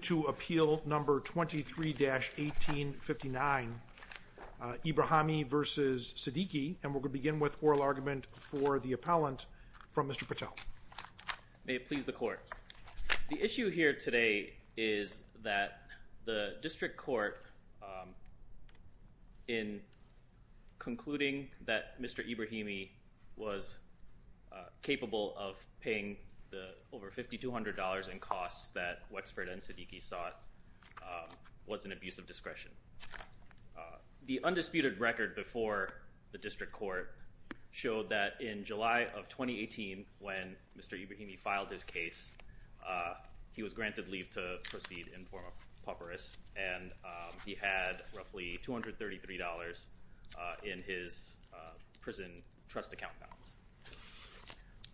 23-1859, Ebrahimi v. Siddiqui. And we're going to begin with oral argument for the appellant from Mr. Patel. The issue here today is that the district court, in concluding that Mr. Ebrahimi was capable of paying the over $5,200 in costs that Wexford and Siddiqui sought, was an abuse of discretion. The undisputed record before the district court showed that in July of 2018, when Mr. Ebrahimi filed his case, he was granted leave to proceed in formal papyrus, and he had roughly $233 in his prison trust account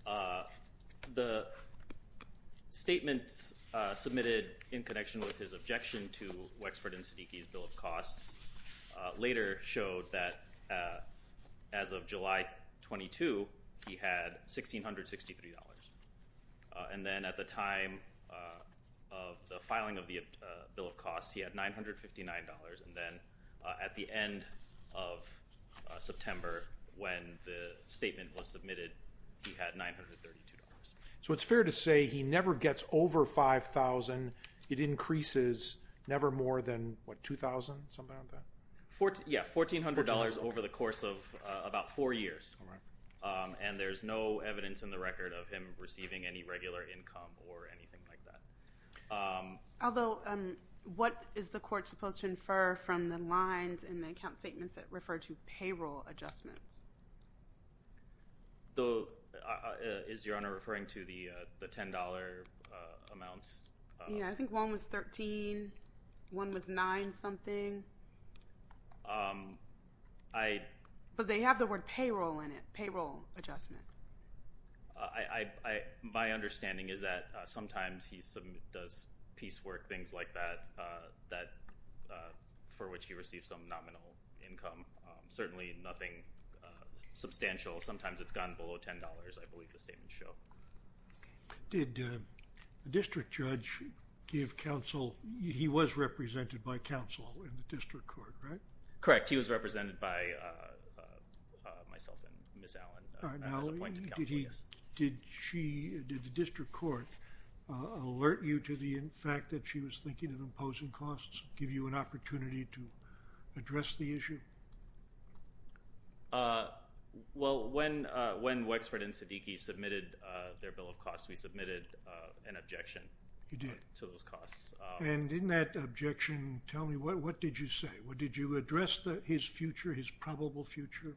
balance. The statements submitted in connection with his objection to Wexford and Siddiqui's bill of costs later showed that as of July 22, he had $1,663. And then at the time of the filing of the bill of costs, he had $959. And then at the end of September, when the statement was submitted, he had $932. So it's fair to say he never gets over $5,000. It increases never more than what, $2,000, something like that? Yeah, $1,400 over the course of about four years. And there's no evidence in the record of him receiving any regular income or anything like that. Although, what is the court supposed to infer from the lines in the account statements that refer to payroll adjustments? Is Your Honor referring to the $10 amounts? Yeah, I think one was $13, one was $9 something. But they have the word payroll in it, payroll adjustment. My understanding is that sometimes he does piecework, things like that, for which he receives some nominal income. Certainly nothing substantial. Sometimes it's gone below $10, I believe the statements show. Did the counsel, he was represented by counsel in the district court, right? Correct, he was represented by myself and Ms. Allen. Did the district court alert you to the fact that she was thinking of imposing costs, give you an opportunity to address the issue? Well, when Wexford and Siddiqui submitted their bill of costs. And in that objection, tell me, what did you say? Did you address his future, his probable future?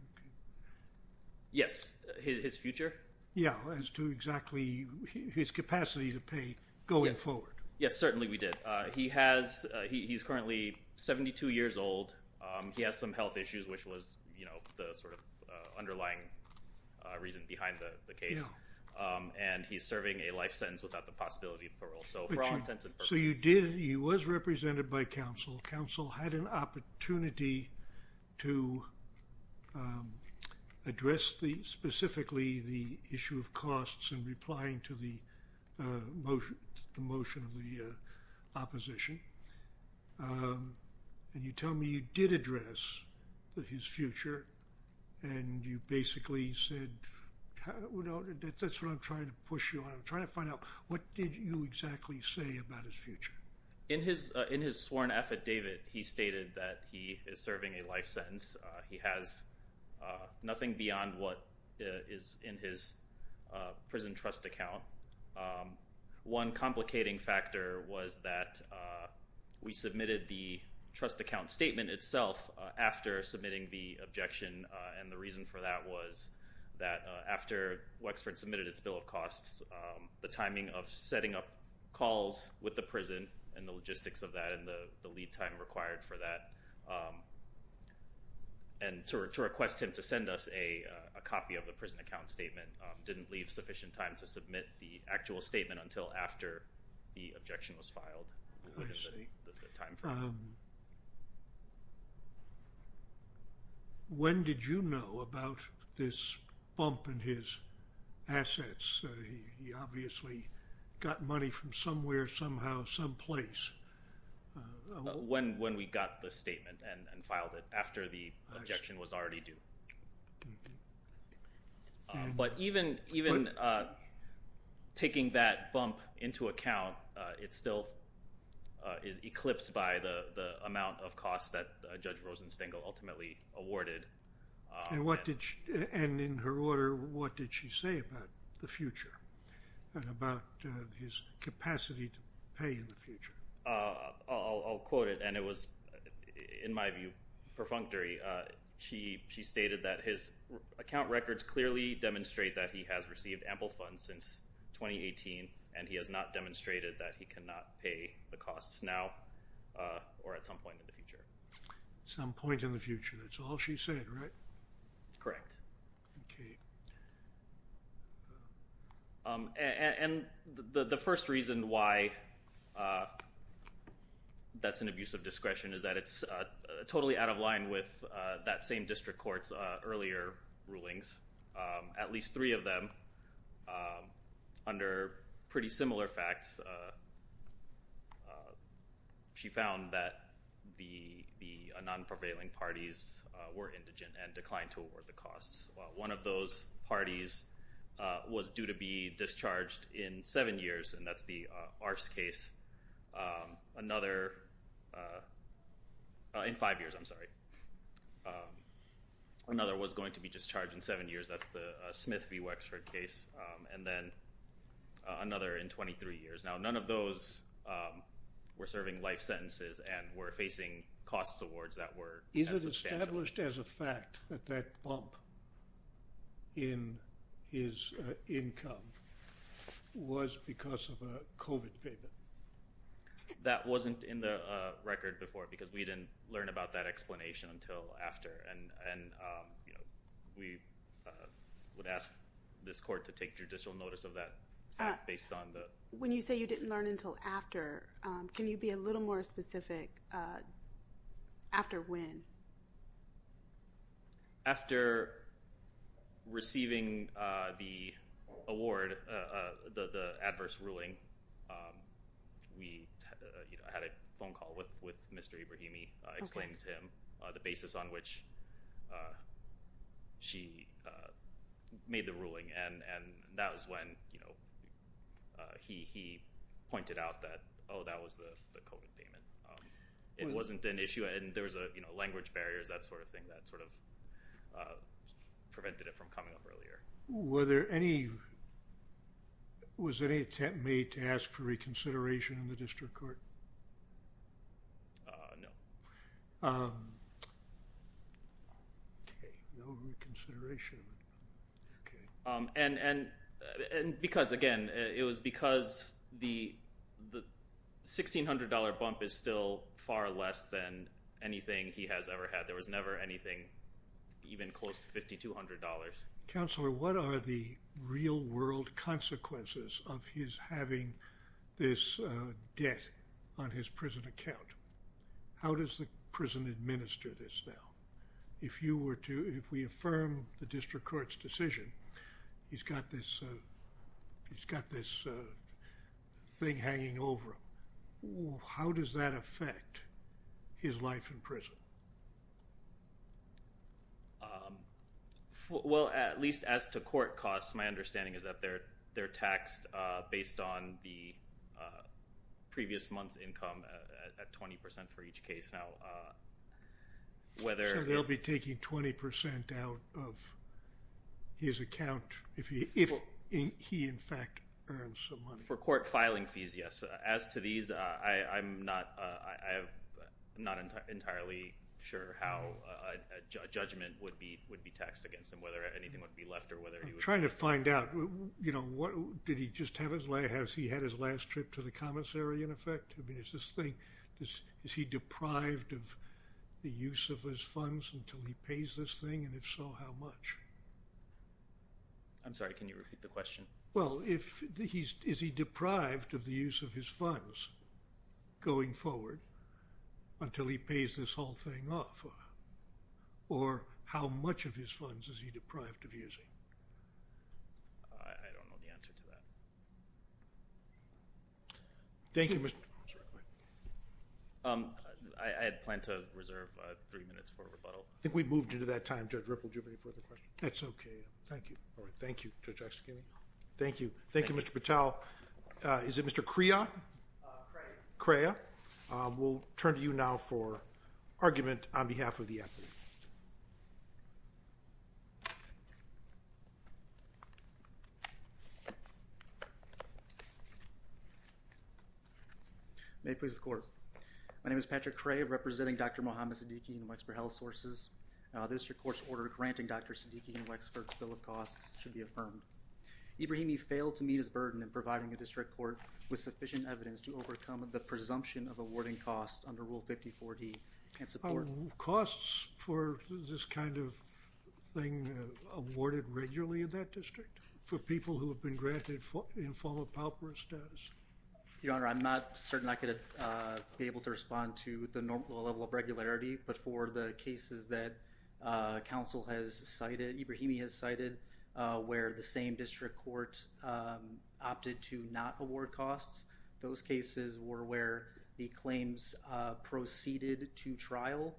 Yes, his future? Yeah, as to exactly his capacity to pay going forward. Yes, certainly we did. He has, he's currently 72 years old. He has some health issues, which was, you know, the sort of underlying reason behind the case. And he's serving a life sentence without the possibility of So you did, he was represented by counsel. Counsel had an opportunity to address the, specifically the issue of costs and replying to the motion, the motion of the opposition. And you tell me you did address his future and you basically said, you know, that's what I'm trying to push you on. I'm trying to find out what did you exactly say about his future? In his, in his sworn affidavit, he stated that he is serving a life sentence. He has nothing beyond what is in his prison trust account. One complicating factor was that we submitted the trust account statement itself after submitting the objection. And the reason for that was that after Wexford submitted its bill of costs, the timing of setting up calls with the prison and the logistics of that and the lead time required for that, and to request him to send us a copy of the prison account statement, didn't leave sufficient time to submit the actual statement until after the bump in his assets. He obviously got money from somewhere, somehow, someplace. When we got the statement and filed it, after the objection was already due. But even taking that bump into account, it still is eclipsed by the amount of And what did, and in her order, what did she say about the future and about his capacity to pay in the future? I'll quote it, and it was, in my view, perfunctory. She stated that his account records clearly demonstrate that he has received ample funds since 2018 and he has not demonstrated that he cannot pay the costs now or at some point in the future. Some point in the future, that's all she said, right? Correct. Okay. And the first reason why that's an abuse of discretion is that it's totally out of line with that same district court's earlier rulings. At least three of them, under pretty similar facts, she found that the non-prevailing parties were indigent and declined to award the costs. One of those parties was due to be discharged in seven years, and that's the Arce case. Another, in five years, I'm sorry. Another was going to be discharged in seven years, that's the Smith v. Wexford case. And then another in 23 years. Now, none of those were serving life sentences and were facing costs awards that were substantial. Is it established as a fact that that bump in his income was because of a COVID payment? That wasn't in the record before because we didn't learn about that explanation until after, and, you know, we would ask this When you say you didn't learn until after, can you be a little more specific after when? After receiving the award, the adverse ruling, we had a phone call with Mr. Ibrahimi explaining to him the basis on which she made the ruling, and that he pointed out that, oh, that was the COVID payment. It wasn't an issue, and there was a, you know, language barriers, that sort of thing that sort of prevented it from coming up earlier. Were there any, was any attempt made to ask for reconsideration in the district court? No. Okay, no reconsideration. And because, again, it was because the $1,600 bump is still far less than anything he has ever had. There was never anything even close to $5,200. Counselor, what are the real-world consequences of his having this debt on his prison account? How does the prison administer this now? If you were to, if we affirm the district court's decision, he's got this, he's got this thing hanging over him. How does that affect his life in prison? Well, at least as to court costs, my understanding is that they're, they're on the previous month's income at 20% for each case. Now, whether... So they'll be taking 20% out of his account if he, if he, in fact, earns some money. For court filing fees, yes. As to these, I'm not, I'm not entirely sure how a judgment would be, would be taxed against him, whether anything would be left or whether... I'm he had his last trip to the commissary, in effect? I mean, is this thing, is he deprived of the use of his funds until he pays this thing, and if so, how much? I'm sorry, can you repeat the question? Well, if he's, is he deprived of the use of his funds going forward until he pays this whole thing off, or how much of his Thank you, Mr. Patel. I had planned to reserve three minutes for rebuttal. I think we've moved into that time. Judge Ripple, did you have any further questions? That's okay. Thank you. All right, thank you, Judge Oxtoby. Thank you. Thank you, Mr. Patel. Is it Mr. Crea? Crea. Crea. We'll turn to you now for argument on behalf of the appellate. May it please the Court. My name is Patrick Crea, representing Dr. Muhammad Siddiqui and Wexford Health Sources. The district court's order granting Dr. Siddiqui and Wexford's bill of costs should be affirmed. Ibrahimi failed to meet his burden in providing the district court with sufficient evidence to overcome the presumption of awarding costs under Rule 54D and support... Costs for this kind of thing awarded regularly in that district for people who have been granted informal pauperous status. Your Honor, I'm not certain I could be able to respond to the normal level of regularity, but for the cases that counsel has cited, Ibrahimi has cited, where the same district court opted to not award costs, those cases were where the claims proceeded to trial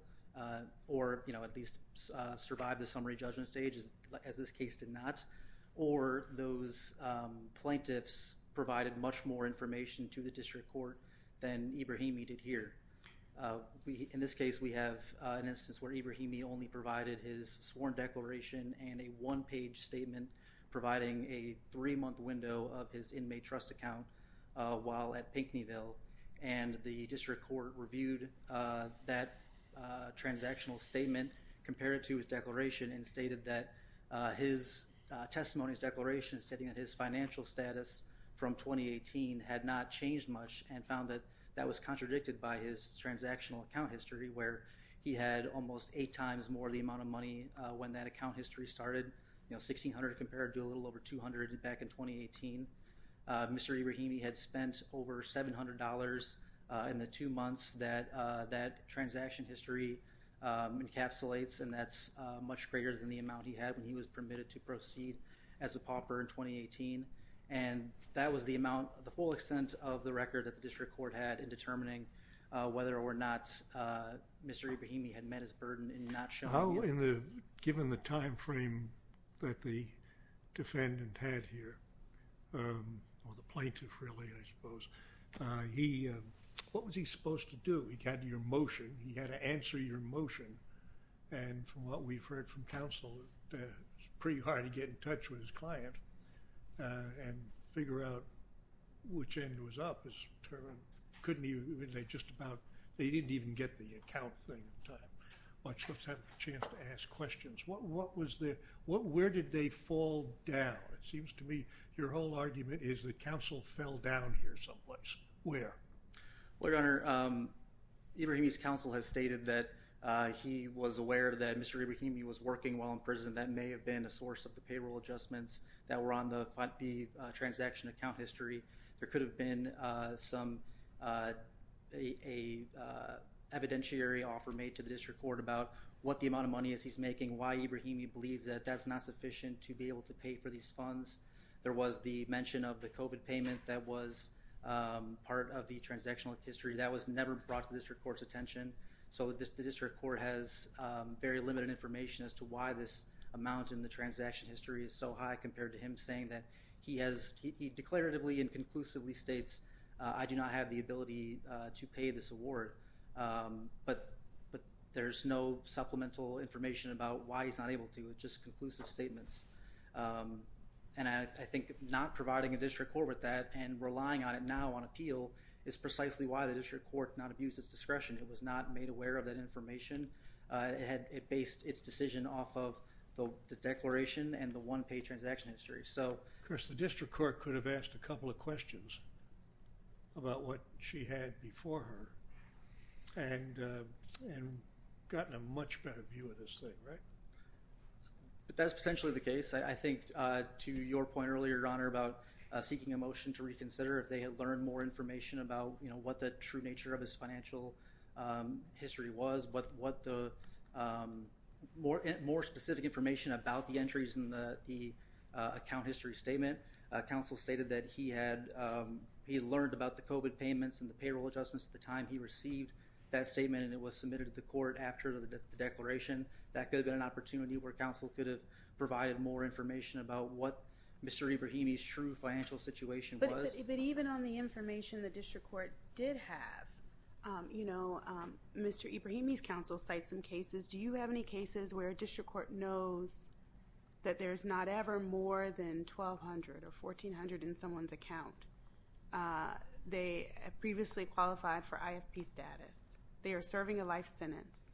or, you know, at least survived the summary judgment stage as this case did not, or those plaintiffs provided much more information to the district court than Ibrahimi did here. In this case, we have an instance where Ibrahimi only provided his sworn declaration and a one-page statement providing a three-month window of his inmate trust account while at Pinkneyville, and the district court reviewed that transactional statement, compared it to his declaration, and stated that his testimony, his declaration, stating that his financial status from 2018 had not changed much and found that that was contradicted by his transactional account history where he had almost eight times more the amount of money when that account history started. You know, $1,600 compared to a little over $200 back in 2018. Mr. Ibrahimi had spent over $700 in the two months that that transaction history encapsulates, and that's much greater than the amount he had when he was permitted to proceed as a pauper in 2018, and that was the amount, the full extent of the record that the district court had in determining whether or not Mr. Ibrahimi had met his burden in not showing. How in the, given the time frame that the defendant had here, or the what was he supposed to do? He had your motion, he had to answer your motion, and from what we've heard from counsel, it's pretty hard to get in touch with his client and figure out which end was up. Couldn't he, they just about, they didn't even get the account thing in time. Watch, let's have a chance to ask questions. What was the, where did they fall down? It seems to me your whole lawyer. Well, your honor, Ibrahimi's counsel has stated that he was aware that Mr. Ibrahimi was working while in prison. That may have been a source of the payroll adjustments that were on the transaction account history. There could have been some, a evidentiary offer made to the district court about what the amount of money is he's making, why Ibrahimi believes that that's not sufficient to be able to pay for these funds. There was the mention of the COVID payment that was part of the transactional history. That was never brought to the district court's attention, so the district court has very limited information as to why this amount in the transaction history is so high compared to him saying that he has, he declaratively and conclusively states I do not have the ability to pay this award, but there's no supplemental information about why he's not able to. It's just conclusive statements, and I that and relying on it now on appeal is precisely why the district court not abused its discretion. It was not made aware of that information. It had, it based its decision off of the declaration and the one-pay transaction history, so. Of course, the district court could have asked a couple of questions about what she had before her, and gotten a much better view of this thing, right? But that's potentially the case. I think to your point earlier, your honor, about seeking a motion to reconsider if they had learned more information about, you know, what the true nature of his financial history was, but what the more specific information about the entries in the account history statement. Counsel stated that he had, he learned about the COVID payments and the payroll adjustments at the time he received that statement, and it was submitted to the court after the declaration. That could have been an opportunity where counsel could have provided more information about what Mr. Ebrahimi's true financial situation was. But even on the information the district court did have, you know, Mr. Ebrahimi's counsel cites some cases. Do you have any cases where a district court knows that there's not ever more than 1,200 or 1,400 in someone's account? They previously qualified for IFP status. They are serving a life sentence.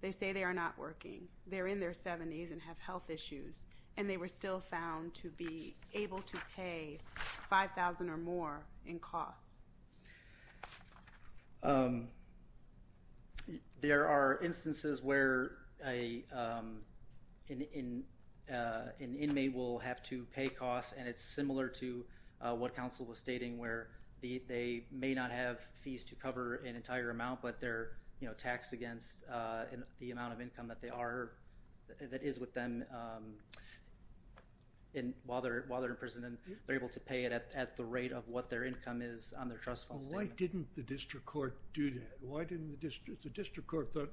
They say they are not working. They're in their 70s and have health issues, and they were still found to be able to pay 5,000 or more in costs. There are instances where an inmate will have to pay costs, and it's similar to what counsel was stating, where they may not have fees to cover an entire amount, but they're, you know, taxed against the amount of income that they are, that is with them while they're in prison, and they're able to pay it at the rate of what their income is on their trust fund statement. Why didn't the district court do that? Why didn't the district court, the district court thought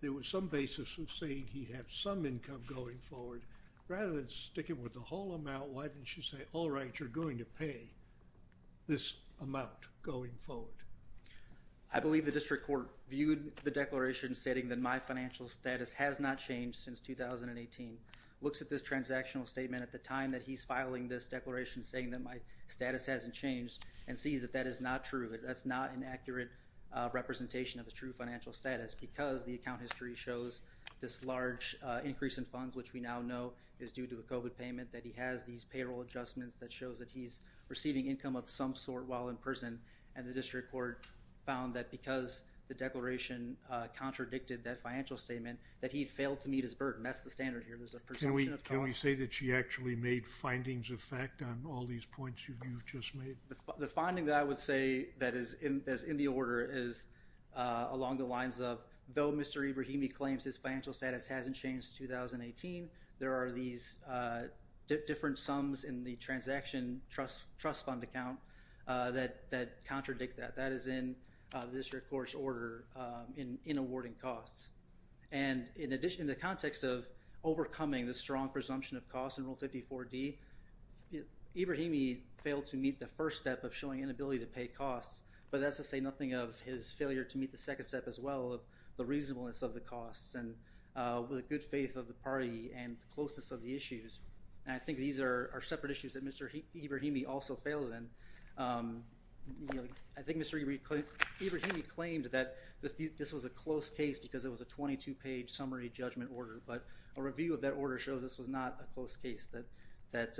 there was some basis of saying he'd have some income going forward. Rather than sticking with the whole amount, why didn't you say, all right, you're going to pay this amount going forward? I believe the district court viewed the financial status has not changed since 2018, looks at this transactional statement at the time that he's filing this declaration saying that my status hasn't changed, and sees that that is not true. That's not an accurate representation of his true financial status because the account history shows this large increase in funds, which we now know is due to a COVID payment, that he has these payroll adjustments that shows that he's receiving income of some sort while in prison, and the district court found that because the financial statement that he failed to meet his burden. That's the standard here. Can we say that she actually made findings of fact on all these points you've just made? The finding that I would say that is in the order is along the lines of, though Mr. Ebrahimi claims his financial status hasn't changed since 2018, there are these different sums in the transaction trust fund account that contradict that. That is in the district court's order in awarding costs, and in addition, in the context of overcoming the strong presumption of costs in Rule 54d, Ebrahimi failed to meet the first step of showing inability to pay costs, but that's to say nothing of his failure to meet the second step as well of the reasonableness of the costs and with a good faith of the party and the closeness of the issues. I think these are separate issues that Mr. Ebrahimi also fails in. I think Mr. Ebrahimi claimed that this was a close case because it was a 22-page summary judgment order, but a review of that order shows this was not a close case, that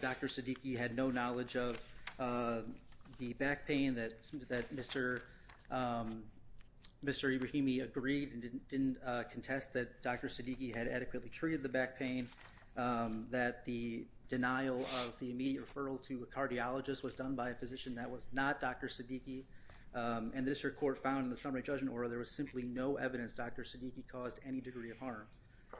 Dr. Siddiqui had no knowledge of the back pain, that Mr. Ebrahimi agreed and didn't contest that Dr. Siddiqui had adequately treated the back pain, that the denial of the immediate referral to a cardiologist was done by a and the district court found in the summary judgment order there was simply no evidence Dr. Siddiqui caused any degree of harm,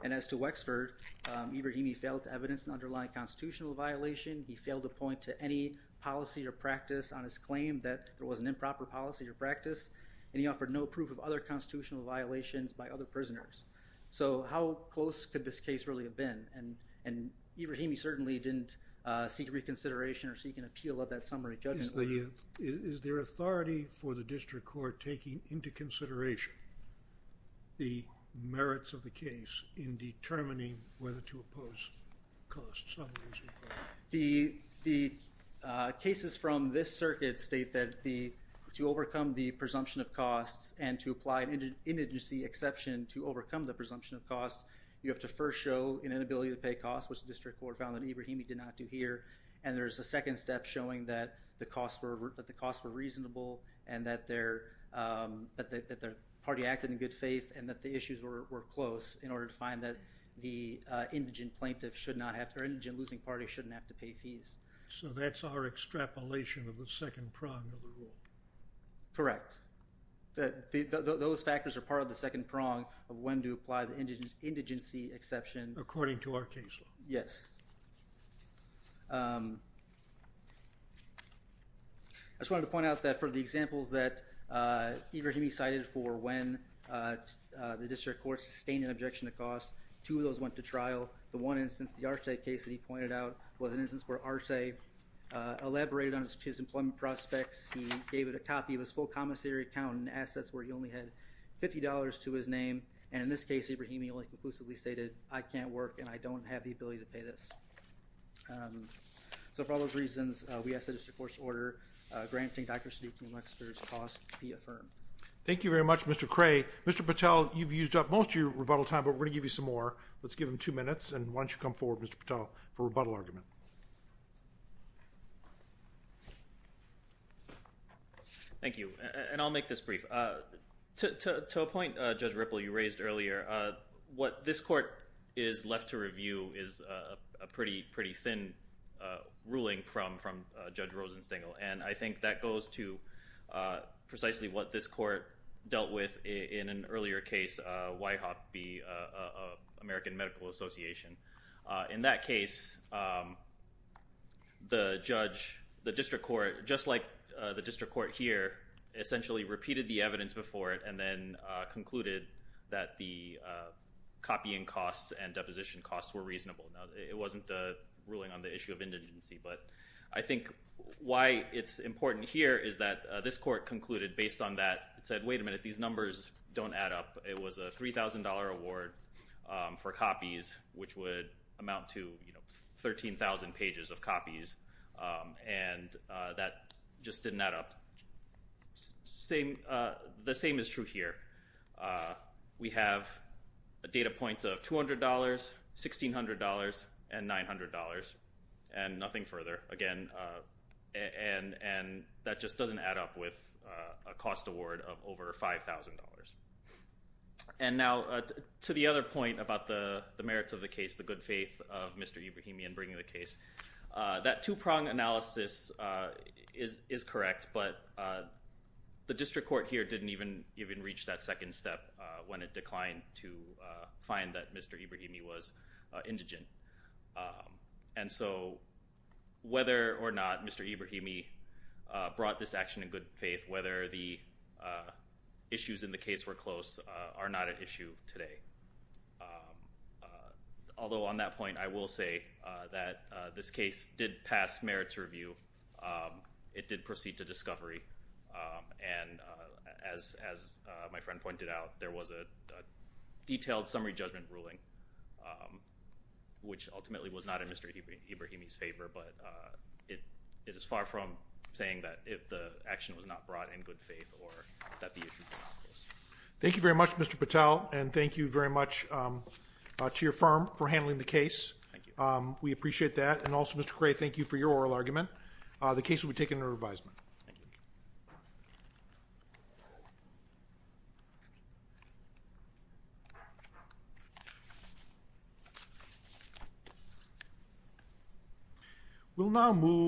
and as to Wexford, Ebrahimi failed to evidence an underlying constitutional violation, he failed to point to any policy or practice on his claim that there was an improper policy or practice, and he offered no proof of other constitutional violations by other prisoners. So how close could this case really have been? And Ebrahimi certainly didn't seek reconsideration or seek an appeal of that summary judgment order. Is there authority for the district court taking into consideration the merits of the case in determining whether to oppose costs? The cases from this circuit state that to overcome the presumption of costs and to apply an indigency exception to overcome the presumption of costs, you have to first show an inability to pay costs, which the district court found that Ebrahimi did not do here, and there's a second step showing that the costs were reasonable and that their party acted in good faith and that the issues were close in order to find that the indigent plaintiff should not have to, or indigent losing party shouldn't have to pay fees. So that's our extrapolation of the second prong of the rule? Correct. Those factors are part of the second prong of when to apply the indigency exception. According to our case law. Yes. I just wanted to point out that for the examples that Ebrahimi cited for when the district court sustained an objection to costs, two of those went to trial. The one instance, the Arce case that he pointed out, was an instance where Arce elaborated on his employment prospects. He gave it a copy of his full commissary account and assets where he only had $50 to his name and in this case Ebrahimi only conclusively stated, I can't work and I don't have the ability to pay this. So for all those reasons, we ask that the district court's order granting Dr. Sudipna Wexler's cost be affirmed. Thank you very much Mr. Cray. Mr. Patel, you've used up most of your rebuttal time but we're gonna give you some more. Let's give him two minutes and why don't you come forward Mr. Patel for rebuttal argument. Thank you and I'll make this brief. To a point Judge Ripple, you raised earlier, what this court is left to review is a pretty pretty thin ruling from from Judge Rosenstengel and I think that goes to precisely what this court dealt with in an earlier case, Whitehop v. American Medical Association. In that case, the judge, the district court, just like the district court here, essentially repeated the evidence before it and then concluded that the copying costs and deposition costs were reasonable. It wasn't a ruling on the issue of indigency but I think why it's important here is that this court concluded based on that. It said, wait a minute, these numbers don't add up. It was a $3,000 award for copies which would amount to, you know, 13,000 pages of copies and that just didn't add up. The same is true here. We have data points of $200, $1,600, and $900 and nothing further. Again, and that just doesn't add up with a cost award of over $5,000. And now to the other point about the merits of the case, the good faith of Mr. Ibrahimi in bringing the case, that two-prong analysis is correct but the district court here didn't even reach that second step when it declined to find that Mr. Ibrahimi was indigent. And so whether or not Mr. Ibrahimi brought this action in good faith, whether the issues in the case were close, are not an issue today. Although on that point I will say that this case did pass merits review. It did proceed to discovery and as my friend pointed out, there was a detailed summary judgment ruling which ultimately was not in Mr. Ibrahimi's favor but it is as far from saying that if the action was not brought in good faith or that the issue was not close. Thank you very much Mr. Patel and thank you very much to your firm for handling the case. Thank you. We appreciate that and also Mr. Gray, thank you for your oral argument. The case will be taken under revisement. We'll now move...